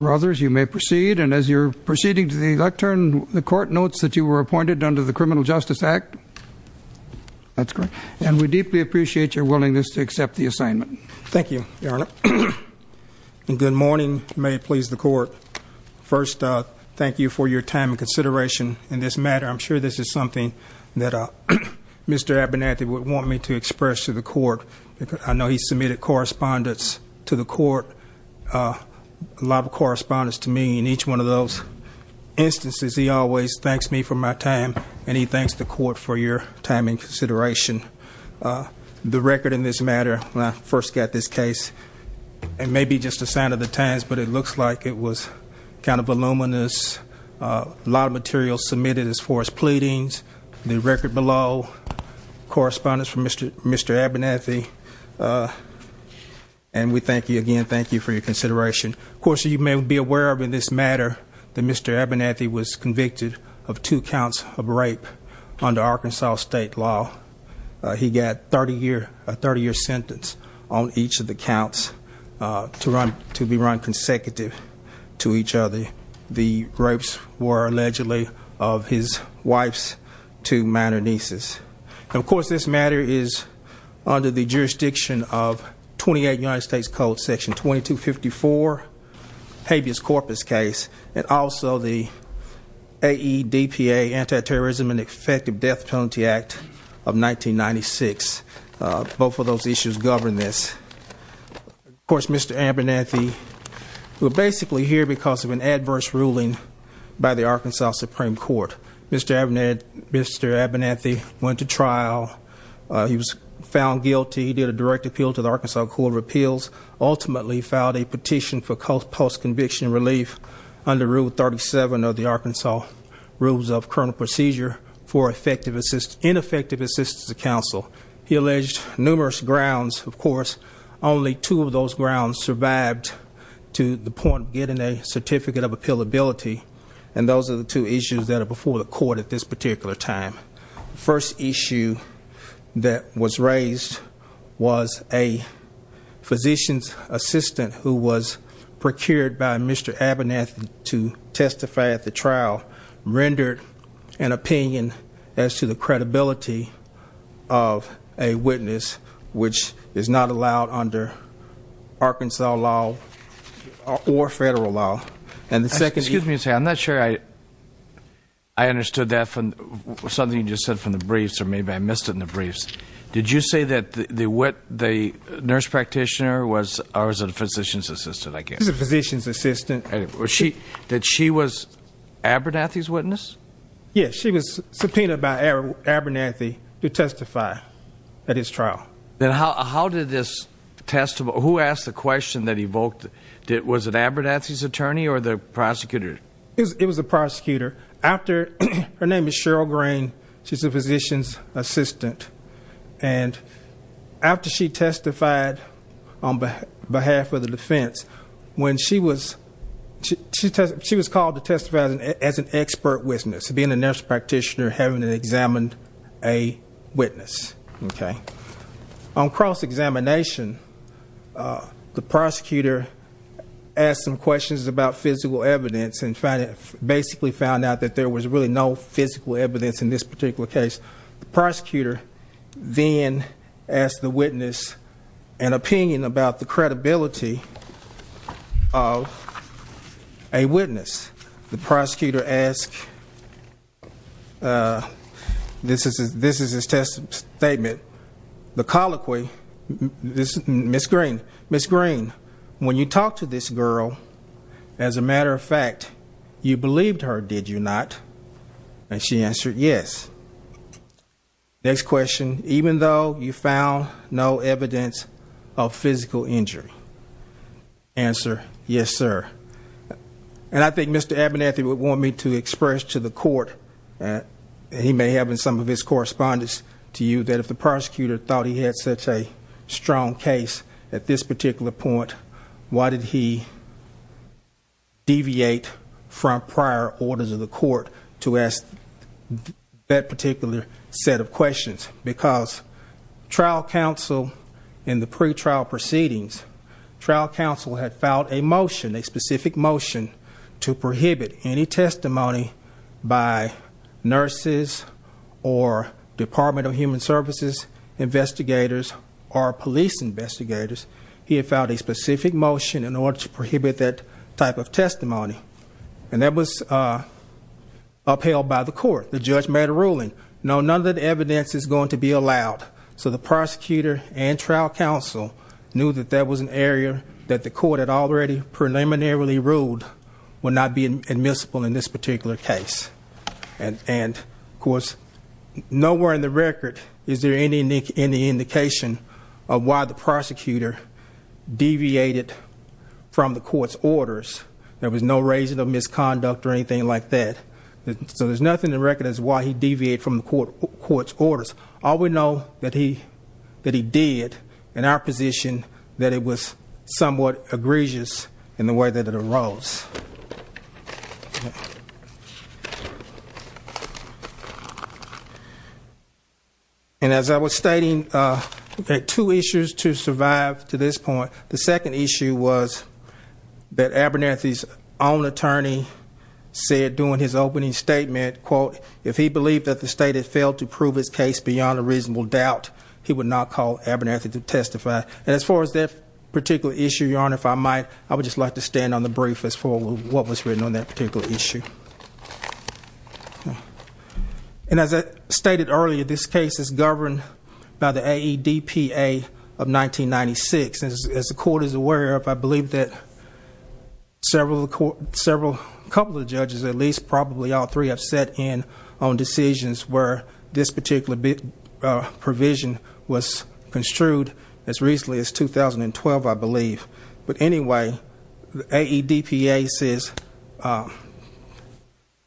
you may proceed and as you're proceeding to the lectern the court notes that you were appointed under the Criminal Justice Act that's correct and we deeply appreciate your willingness to accept the assignment. Thank you your honor and good morning may it please the court first thank you for your time and consideration in this matter I'm sure this is something that uh mr. Abernathy would want me to express to the court because I know he submitted correspondence to the court a lot of correspondence to me in each one of those instances he always thanks me for my time and he thanks the court for your time and consideration the record in this matter when I first got this case it may be just a sign of the times but it looks like it was kind of voluminous a lot of material submitted as far as pleadings the record below correspondence from mr. mr. Abernathy and we thank you again thank you for your consideration of course you may be aware of in this matter that mr. Abernathy was convicted of two counts of rape under Arkansas state law he got 30 year a 30 year sentence on each of the counts to run to be run consecutive to each other the rapes were allegedly of his wife's two minor nieces of course this matter is under the jurisdiction of 28 United States Code section 2254 habeas corpus case and also the AE DPA anti-terrorism and effective death penalty act of 1996 both of those issues govern this of course mr. Abernathy who are basically here because of an adverse ruling by the Arkansas Supreme Court mr. Abner mr. Abernathy went to trial he was found guilty he did a direct appeal to the Arkansas Court of Appeals ultimately filed a petition for post-conviction relief under rule 37 of the Arkansas Rules of Criminal Procedure for effective assist ineffective assistance of counsel he alleged numerous grounds of course only two of those grounds survived to the point getting a certificate of appeal ability and those are the two issues that are before the court at this particular time first issue that was raised was a physician's assistant who was procured by mr. Abernathy to testify at the trial rendered an opinion as to the credibility of a witness which is not allowed under Arkansas law or federal law and the second excuse me to say I'm not sure I I understood that from something you just said from the briefs or maybe I missed it in the briefs did you say that the what the nurse practitioner was I was a physician's assistant I guess the physician's Abernathy's witness yes she was subpoenaed by Abernathy to testify at his trial then how did this test who asked the question that evoked it was an Abernathy's attorney or the prosecutor it was a prosecutor after her name is Cheryl Green she's a physician's assistant and after she testified on behalf of the defense when she was she was called to testify as an expert witness being a nurse practitioner having an examined a witness okay on cross-examination the prosecutor asked some questions about physical evidence and found it basically found out that there was really no physical evidence in this particular case the prosecutor then asked the witness an opinion about the credibility of a witness the prosecutor asked this is this is his test statement the colloquy this miss green miss green when you talk to this girl as a matter of fact you believed her did you not and she answered yes next question even though you found no evidence of physical injury answer yes sir and I think mr. Abernathy would want me to express to the court that he may have been some of his correspondence to you that if the prosecutor thought he had such a strong case at this particular point why did he deviate from prior orders of the court to ask that particular set of questions because trial counsel in the pre-trial proceedings trial counsel had filed a motion a specific motion to prohibit any testimony by nurses or Department of Human Services investigators or police investigators he had filed a specific motion in order to prohibit that type of testimony and that was upheld by the court the judge made a ruling no none of the evidence is going to be allowed so the prosecutor and trial counsel knew that there was an area that the court had already preliminarily ruled will not be admissible in this particular case and and of course nowhere in the record is there any nick any indication of why the prosecutor deviated from the court's orders there was no reason of misconduct or anything like that so there's nothing to recognize why he deviated from the court court's orders all we know that he that he did in our position that it was somewhat egregious in the way that it arose and as I was to survive to this point the second issue was that Abernethy's own attorney said doing his opening statement quote if he believed that the state had failed to prove his case beyond a reasonable doubt he would not call Abernethy to testify and as far as that particular issue your honor if I might I would just like to stand on the brief as for what was written on that particular issue and as I stated earlier this case is governed by the AEDPA of 1996 as the court is aware of I believe that several court several couple of judges at least probably all three have set in on decisions where this particular bit provision was construed as recently as 2012 I believe but anyway the AEDPA says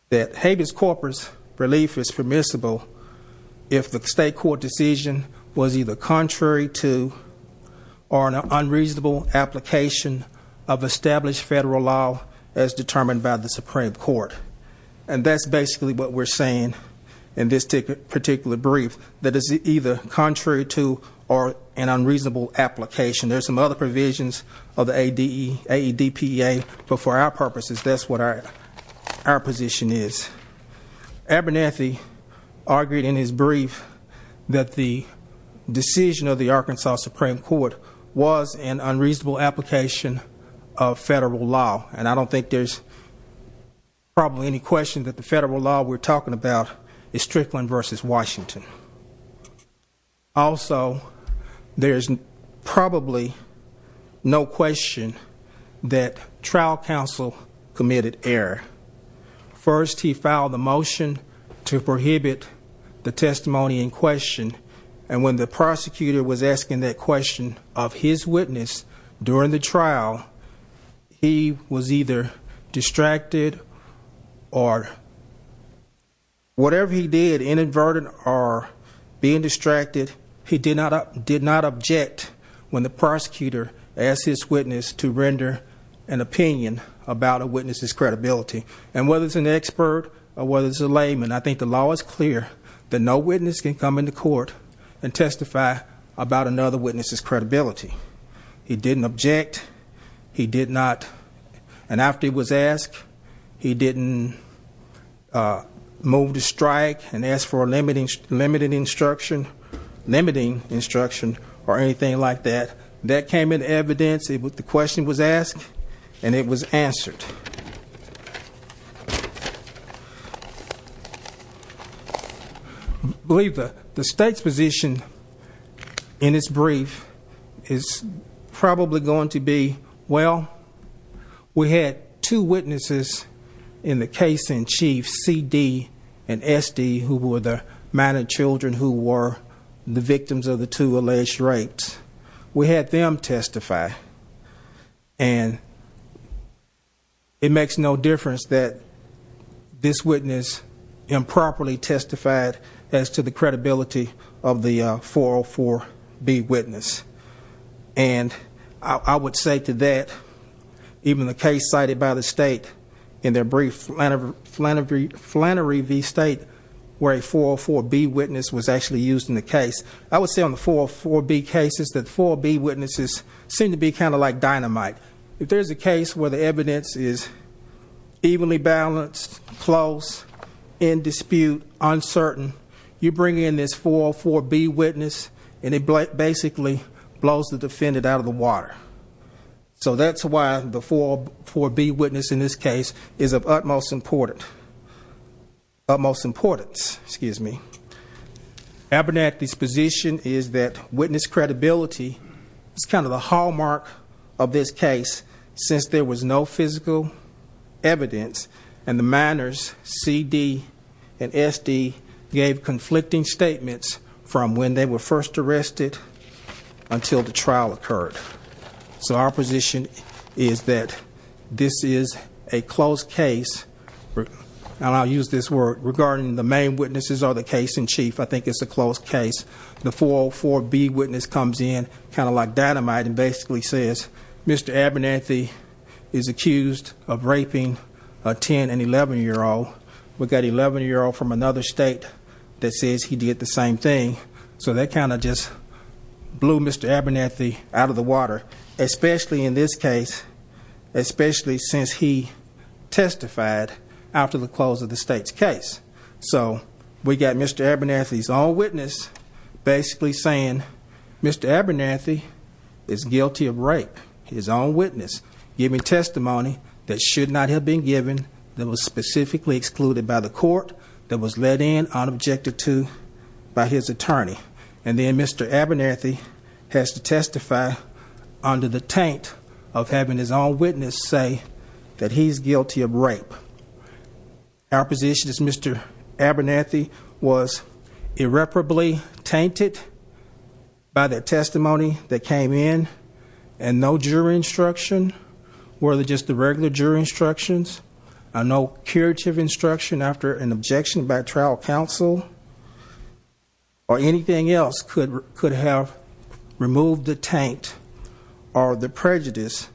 that habeas corpus relief is permissible if the state court decision was either contrary to or an unreasonable application of established federal law as determined by the Supreme Court and that's basically what we're saying in this particular brief that is either contrary to or an unreasonable application there's some other provisions of the AEDPA but for our our position is Abernethy argued in his brief that the decision of the Arkansas Supreme Court was an unreasonable application of federal law and I don't think there's probably any question that the federal law we're talking about is Strickland versus Washington also there's probably no question that trial counsel committed error first he filed a motion to prohibit the testimony in question and when the prosecutor was asking that question of his witness during the trial he was either distracted or whatever he did inadvertent are being distracted he did not up did not object when the prosecutor as his witness to render an opinion about a witness's credibility and whether it's an expert or whether it's a layman I think the law is clear that no witness can come into court and testify about another witness's credibility he didn't object he did not and after he was asked he didn't move to strike and ask for limiting limiting instruction limiting instruction or anything like that that came in evidence it with the question was asked and it was answered believe that the state's position in his brief is probably going to be well we had two witnesses in the case in chief CD and SD who were there man and who were the victims of the two alleged rapes we had them testify and it makes no difference that this witness improperly testified as to the credibility of the 404 be witness and I would say to that even the case cited by in the case I would say on the 404 be cases that for be witnesses seem to be kind of like dynamite if there's a case where the evidence is evenly balanced close in dispute uncertain you bring in this 404 be witness and it basically blows the defendant out of the water so that's why before for be witness in this case is of utmost important utmost importance excuse me Abernathy's position is that witness credibility is kind of the hallmark of this case since there was no physical evidence and the manners CD and SD gave conflicting statements from when they were first arrested until the trial occurred so our position is that this is a close case and I'll use this word regarding the main witnesses are the case in chief I think it's a close case the 404 be witness comes in kind of like dynamite and basically says mr. Abernathy is accused of raping a 10 and 11 year old we've got 11 year old from another state that says he did the same thing so that kind of just blew mr. Abernathy out of the water especially in this case especially since he testified after the close of the state's case so we got mr. Abernathy's all witness basically saying mr. Abernathy is guilty of rape his own witness giving testimony that should not have been given that was specifically excluded by the court that was let in on objective to by his attorney and then mr. Abernathy has to under the taint of having his own witness say that he's guilty of rape our position is mr. Abernathy was irreparably tainted by the testimony that came in and no jury instruction were they just the regular jury instructions I know curative instruction after an objection by trial counsel or anything else could could have removed the taint or the prejudice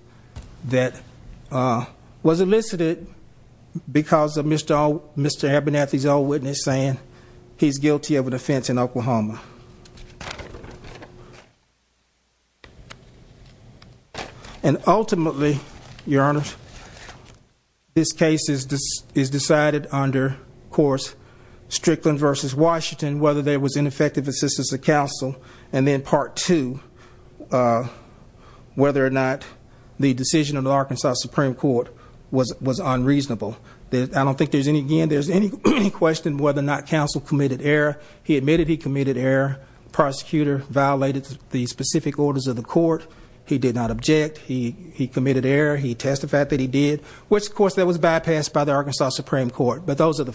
that was elicited because of mr. oh mr. Abernathy's old witness saying he's guilty of an offense in Oklahoma and ultimately your honor this case is this is decided under course Strickland versus Washington whether there was ineffective assistance of counsel and then part two whether or not the decision of the Arkansas Supreme Court was was unreasonable I don't think there's any again there's any question whether or not counsel committed error he admitted he committed error prosecutor violated the specific orders of the court he did not object he he committed error he testified that he did which of course that was bypassed by the Arkansas Supreme Court but those are the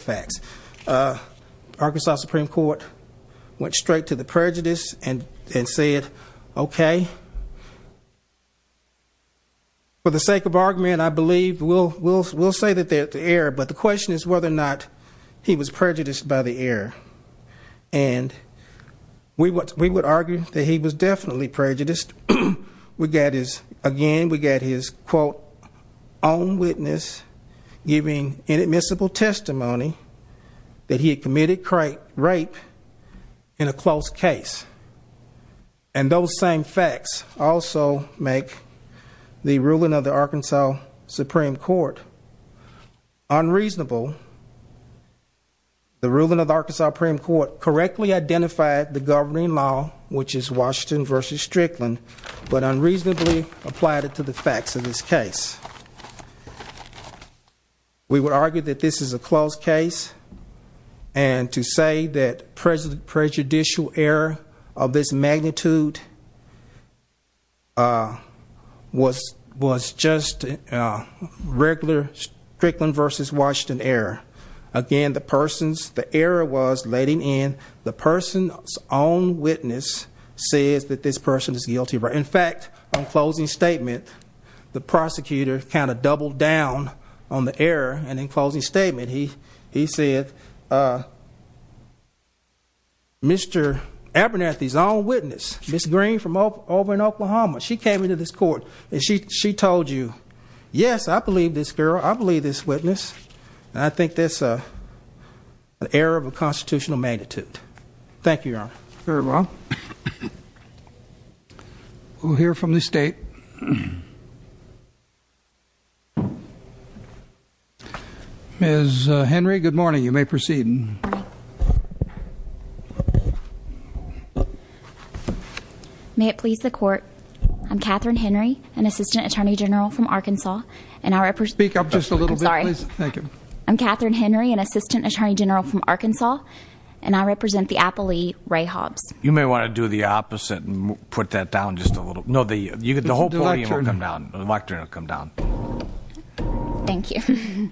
went straight to the prejudice and and said okay for the sake of argument I believe we'll we'll we'll say that they're at the air but the question is whether or not he was prejudiced by the air and we what we would argue that he was definitely prejudiced we get is again we get his quote own witness giving inadmissible testimony that he had committed rape in a close case and those same facts also make the ruling of the Arkansas Supreme Court unreasonable the ruling of the Arkansas Supreme Court correctly identified the governing law which is Washington versus Strickland but unreasonably applied it to the facts of this case we would argue that this is a closed case and to say that president prejudicial error of this magnitude was was just regular Strickland versus Washington error again the person's the error was letting in the person's own witness says that this person is guilty right in fact I'm statement the prosecutor kind of doubled down on the air and in closing statement he he said mr. Abernathy's own witness miss green from over in Oklahoma she came into this court and she she told you yes I believe this girl I believe this witness I think there's a error of a constitutional magnitude thank you well we'll hear from the state is Henry good morning you may proceed may it please the court I'm Catherine Henry an assistant attorney general from Arkansas and I speak up just a little sorry thank you I'm Catherine Henry an assistant attorney general from Arkansas and I represent the Appley Ray Hobbs you may want to do the opposite and put that down just a little no the you get the whole turn around the lectern will come down thank you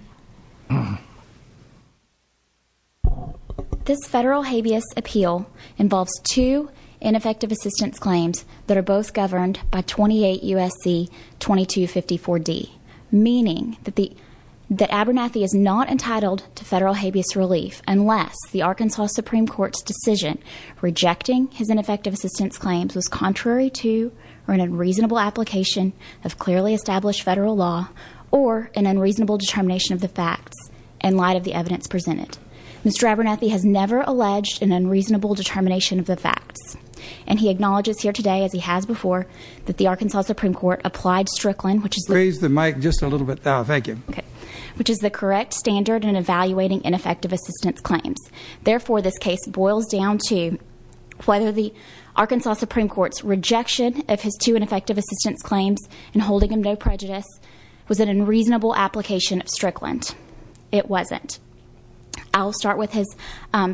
this federal habeas appeal involves two ineffective assistance claims that are both governed by 28 USC 2254 D meaning that the that Abernathy is not entitled to federal habeas relief unless the Arkansas Supreme Court's decision rejecting his ineffective assistance claims was contrary to or an unreasonable application of clearly established federal law or an unreasonable determination of the facts and light of the evidence presented mr. Abernathy has never alleged an unreasonable determination of the facts and he acknowledges here today as he has before that the Arkansas Supreme Court applied Strickland which is raise the mic just a little bit now thank you okay which is the correct standard and evaluating ineffective assistance claims therefore this case boils down to whether the Arkansas Supreme Court's rejection of his two ineffective assistance claims and holding him no prejudice was an unreasonable application of Strickland it wasn't I'll start with his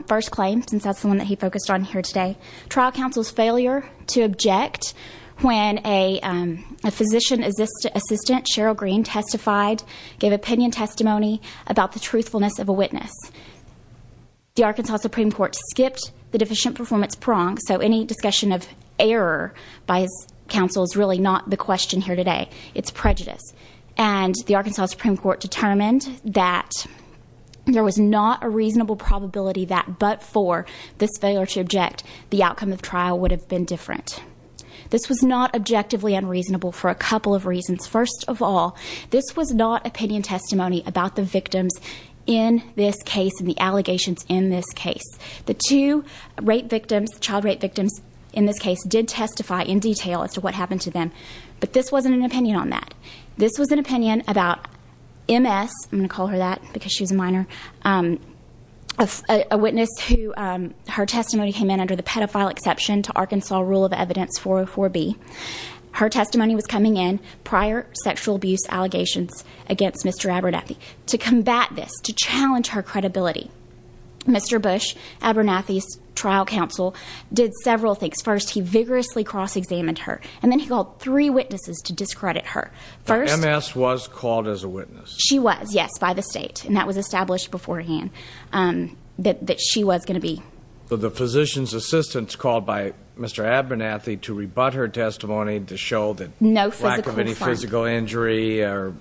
first claim since that's the one that he focused on here today trial counsel's failure to object when a physician is this assistant Cheryl Green testified gave opinion testimony about the truthfulness of a witness the Arkansas Supreme Court skipped the deficient performance prong so any discussion of error by his counsel is really not the question here today it's prejudice and the Arkansas Supreme Court determined that there was not a reasonable probability that but for this failure to object the outcome of trial would have been different this was not objectively unreasonable for a couple of reasons first of all this was not opinion testimony about the victims in this case and the allegations in this case the two rape victims child rape victims in this case did testify in detail as to what happened to them but this wasn't an opinion on that this was an opinion about MS I'm gonna call her that because she's a minor a witness who her testimony came in under the pedophile exception to Arkansas rule of evidence 404 B her testimony was coming in prior sexual abuse allegations against mr. Abernathy to combat this to challenge her credibility mr. Bush Abernathy's trial counsel did several things first he vigorously cross-examined her and then he called three witnesses to discredit her first mass was called as a witness she was yes by the state and that was established beforehand that she was gonna be the physician's assistants called by mr. Abernathy to rebut her testimony to show that no physical injury or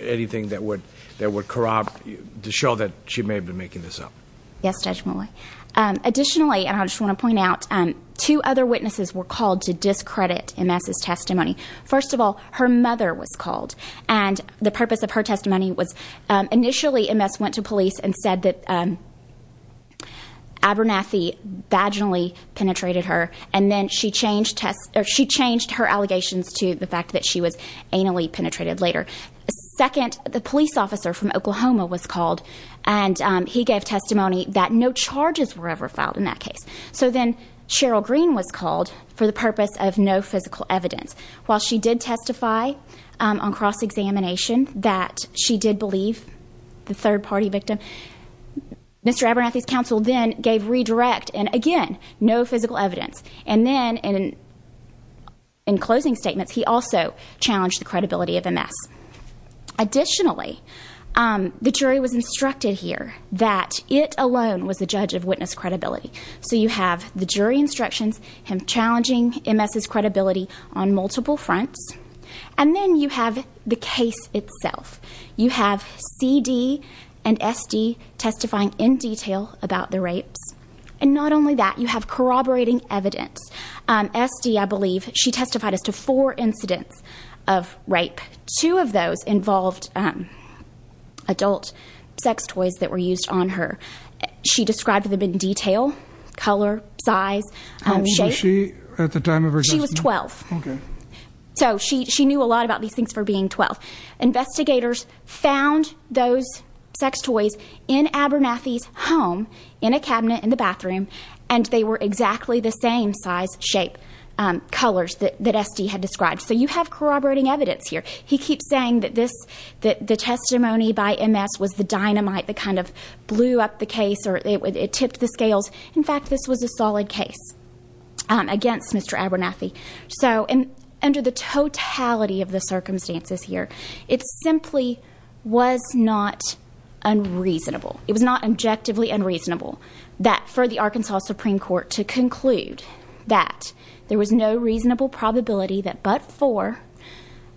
anything that would that would corrupt you to show that she may have been making this up yes judgmentally additionally and I just want to point out and two other witnesses were called to discredit in masses testimony first of all her mother was called and the purpose of her testimony was initially in mess went to police and said that Abernathy vaginally penetrated her and then she changed test or she changed her allegations to the fact that she was anally penetrated later second the police officer from Oklahoma was called and he gave testimony that no charges were ever found in that case so then Cheryl Green was called for the purpose of no physical evidence while she did testify on cross-examination that she did believe the third-party victim mr. Abernathy's counsel then gave redirect and again no physical evidence and then in in closing statements he also challenged the credibility of a mess additionally the jury was instructed here that it alone was the judge of witness credibility so you have the jury instructions him challenging ms's credibility on multiple fronts and then you have the case itself you have CD and SD testifying in detail about the rapes and not only that you have corroborating evidence SD I believe she testified as to four incidents of rape two of those involved adult sex toys that were used on her she described them in detail color size she was 12 so she she knew a lot about these things for being 12 investigators found those sex in Abernathy's home in a cabinet in the bathroom and they were exactly the same size shape colors that SD had described so you have corroborating evidence here he keeps saying that this that the testimony by ms was the dynamite the kind of blew up the case or it would it tipped the scales in fact this was a solid case against mr. Abernathy so and under the totality of the circumstances here it simply was not unreasonable it was not objectively unreasonable that for the Arkansas Supreme Court to conclude that there was no reasonable probability that but for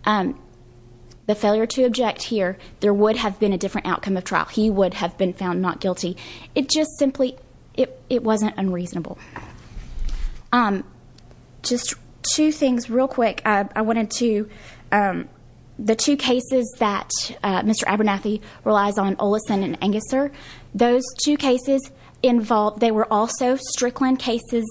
the failure to object here there would have been a different outcome of trial he would have been found not guilty it just simply it the two cases that mr. Abernathy relies on allison and angus sir those two cases involved they were also strickland cases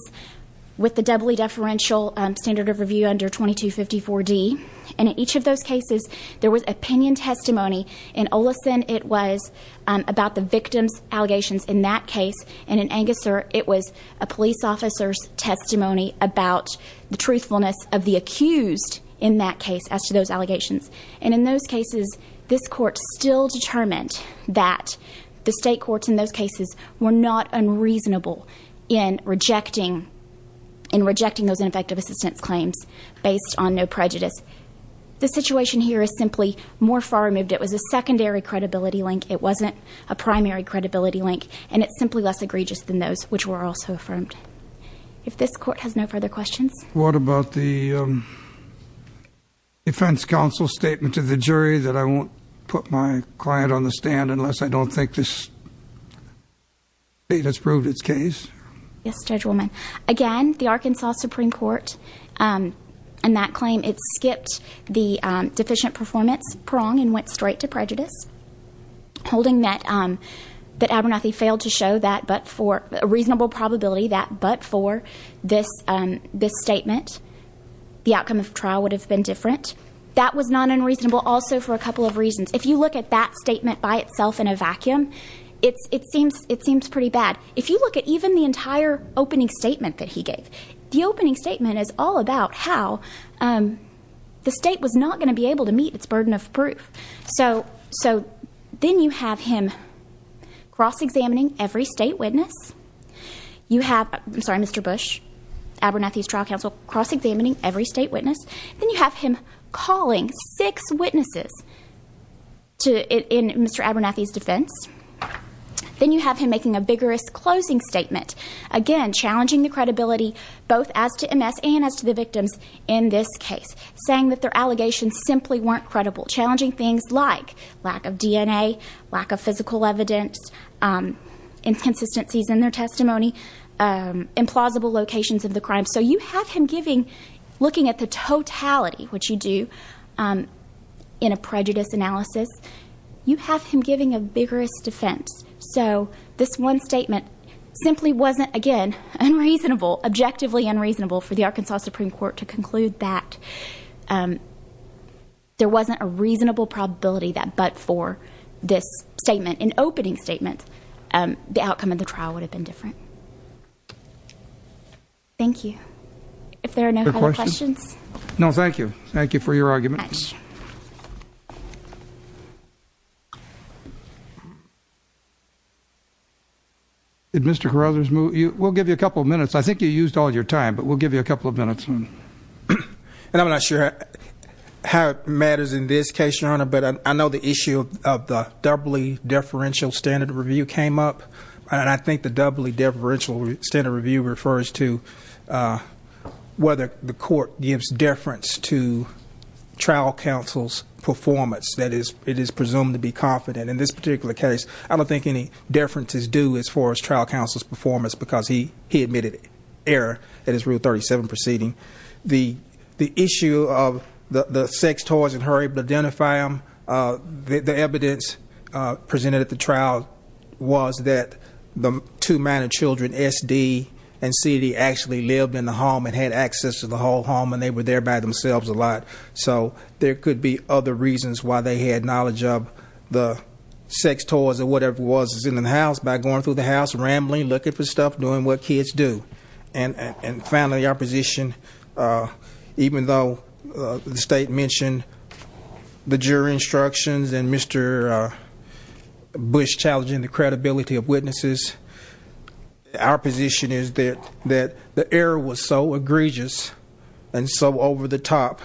with the doubly deferential standard of review under 2254 D and each of those cases there was opinion testimony in allison it was about the victims allegations in that case and in angus sir it was a police officer's testimony about the truthfulness of the accused in that case as to those allegations and in those cases this court still determined that the state courts in those cases were not unreasonable in rejecting and rejecting those ineffective assistance claims based on no prejudice the situation here is simply more far removed it was a secondary credibility link it wasn't a primary credibility link and it's simply less egregious than those which were also from if this court has no further questions what about the defense counsel statement to the jury that I won't put my client on the stand unless I don't think this it has proved its case yes judge woman again the Arkansas Supreme Court and that claim it skipped the deficient performance prong and went straight to prejudice holding that that Abernathy failed to show that but for a reasonable probability that but for this statement the outcome of trial would have been different that was not unreasonable also for a couple of reasons if you look at that statement by itself in a vacuum it's it seems it seems pretty bad if you look at even the entire opening statement that he gave the opening statement is all about how the state was not going to be able to meet its burden of proof so so then you have him cross-examining every state witness you have Mr. Bush Abernathy's trial counsel cross-examining every state witness you have him calling six witnesses to it in Mr. Abernathy's defense then you have him making a vigorous closing statement again challenging the credibility both as to MS and as to the victims in this case saying that their allegations simply weren't credible challenging things like lack of DNA lack of physical evidence inconsistencies in their testimony implausible locations of the crime so you have him giving looking at the totality what you do in a prejudice analysis you have him giving a vigorous defense so this one statement simply wasn't again unreasonable objectively unreasonable for the Arkansas Supreme Court to conclude that there wasn't a reasonable probability that but for this statement an opening statement the outcome of the trial would have been different thank you if there are no questions no thank you thank you for your argument did mr. Carothers move you will give you a couple of minutes I think you used all your time but we'll give you a couple of minutes and I'm not sure how matters in this case your honor but I know the issue of the doubly deferential standard review came up and I think the doubly differential standard review refers to whether the court gives deference to trial counsel's performance that is it is presumed to be confident in this particular case I don't think any differences do as far as trial counsel's performance because he he admitted it is rule 37 proceeding the the issue of the the sex toys in her able to identify them the evidence presented at the trial was that the two minor children SD and CD actually lived in the home and had access to the whole home and they were there by themselves a lot so there could be other reasons why they had knowledge of the sex toys or whatever was in the house by going through the house rambling looking for stuff doing what kids do and and finally opposition even though the state mentioned the jury instructions and mr. Bush challenging the credibility of witnesses our position is that that the air was so egregious and so over-the-top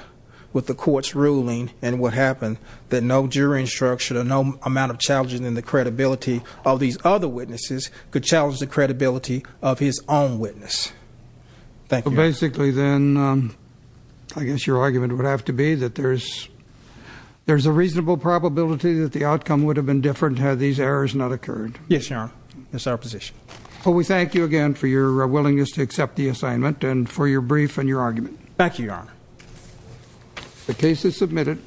with the court's ruling and what happened that no jury instruction or no amount of challenges in the credibility of these other witnesses could challenge the credibility of his own witness basically then I guess your argument would have to be that there's there's a reasonable probability that the outcome would have been different had these errors not occurred yes sir that's our position we thank you again for your willingness to accept the assignment and for your brief and your argument back you are the case is submitted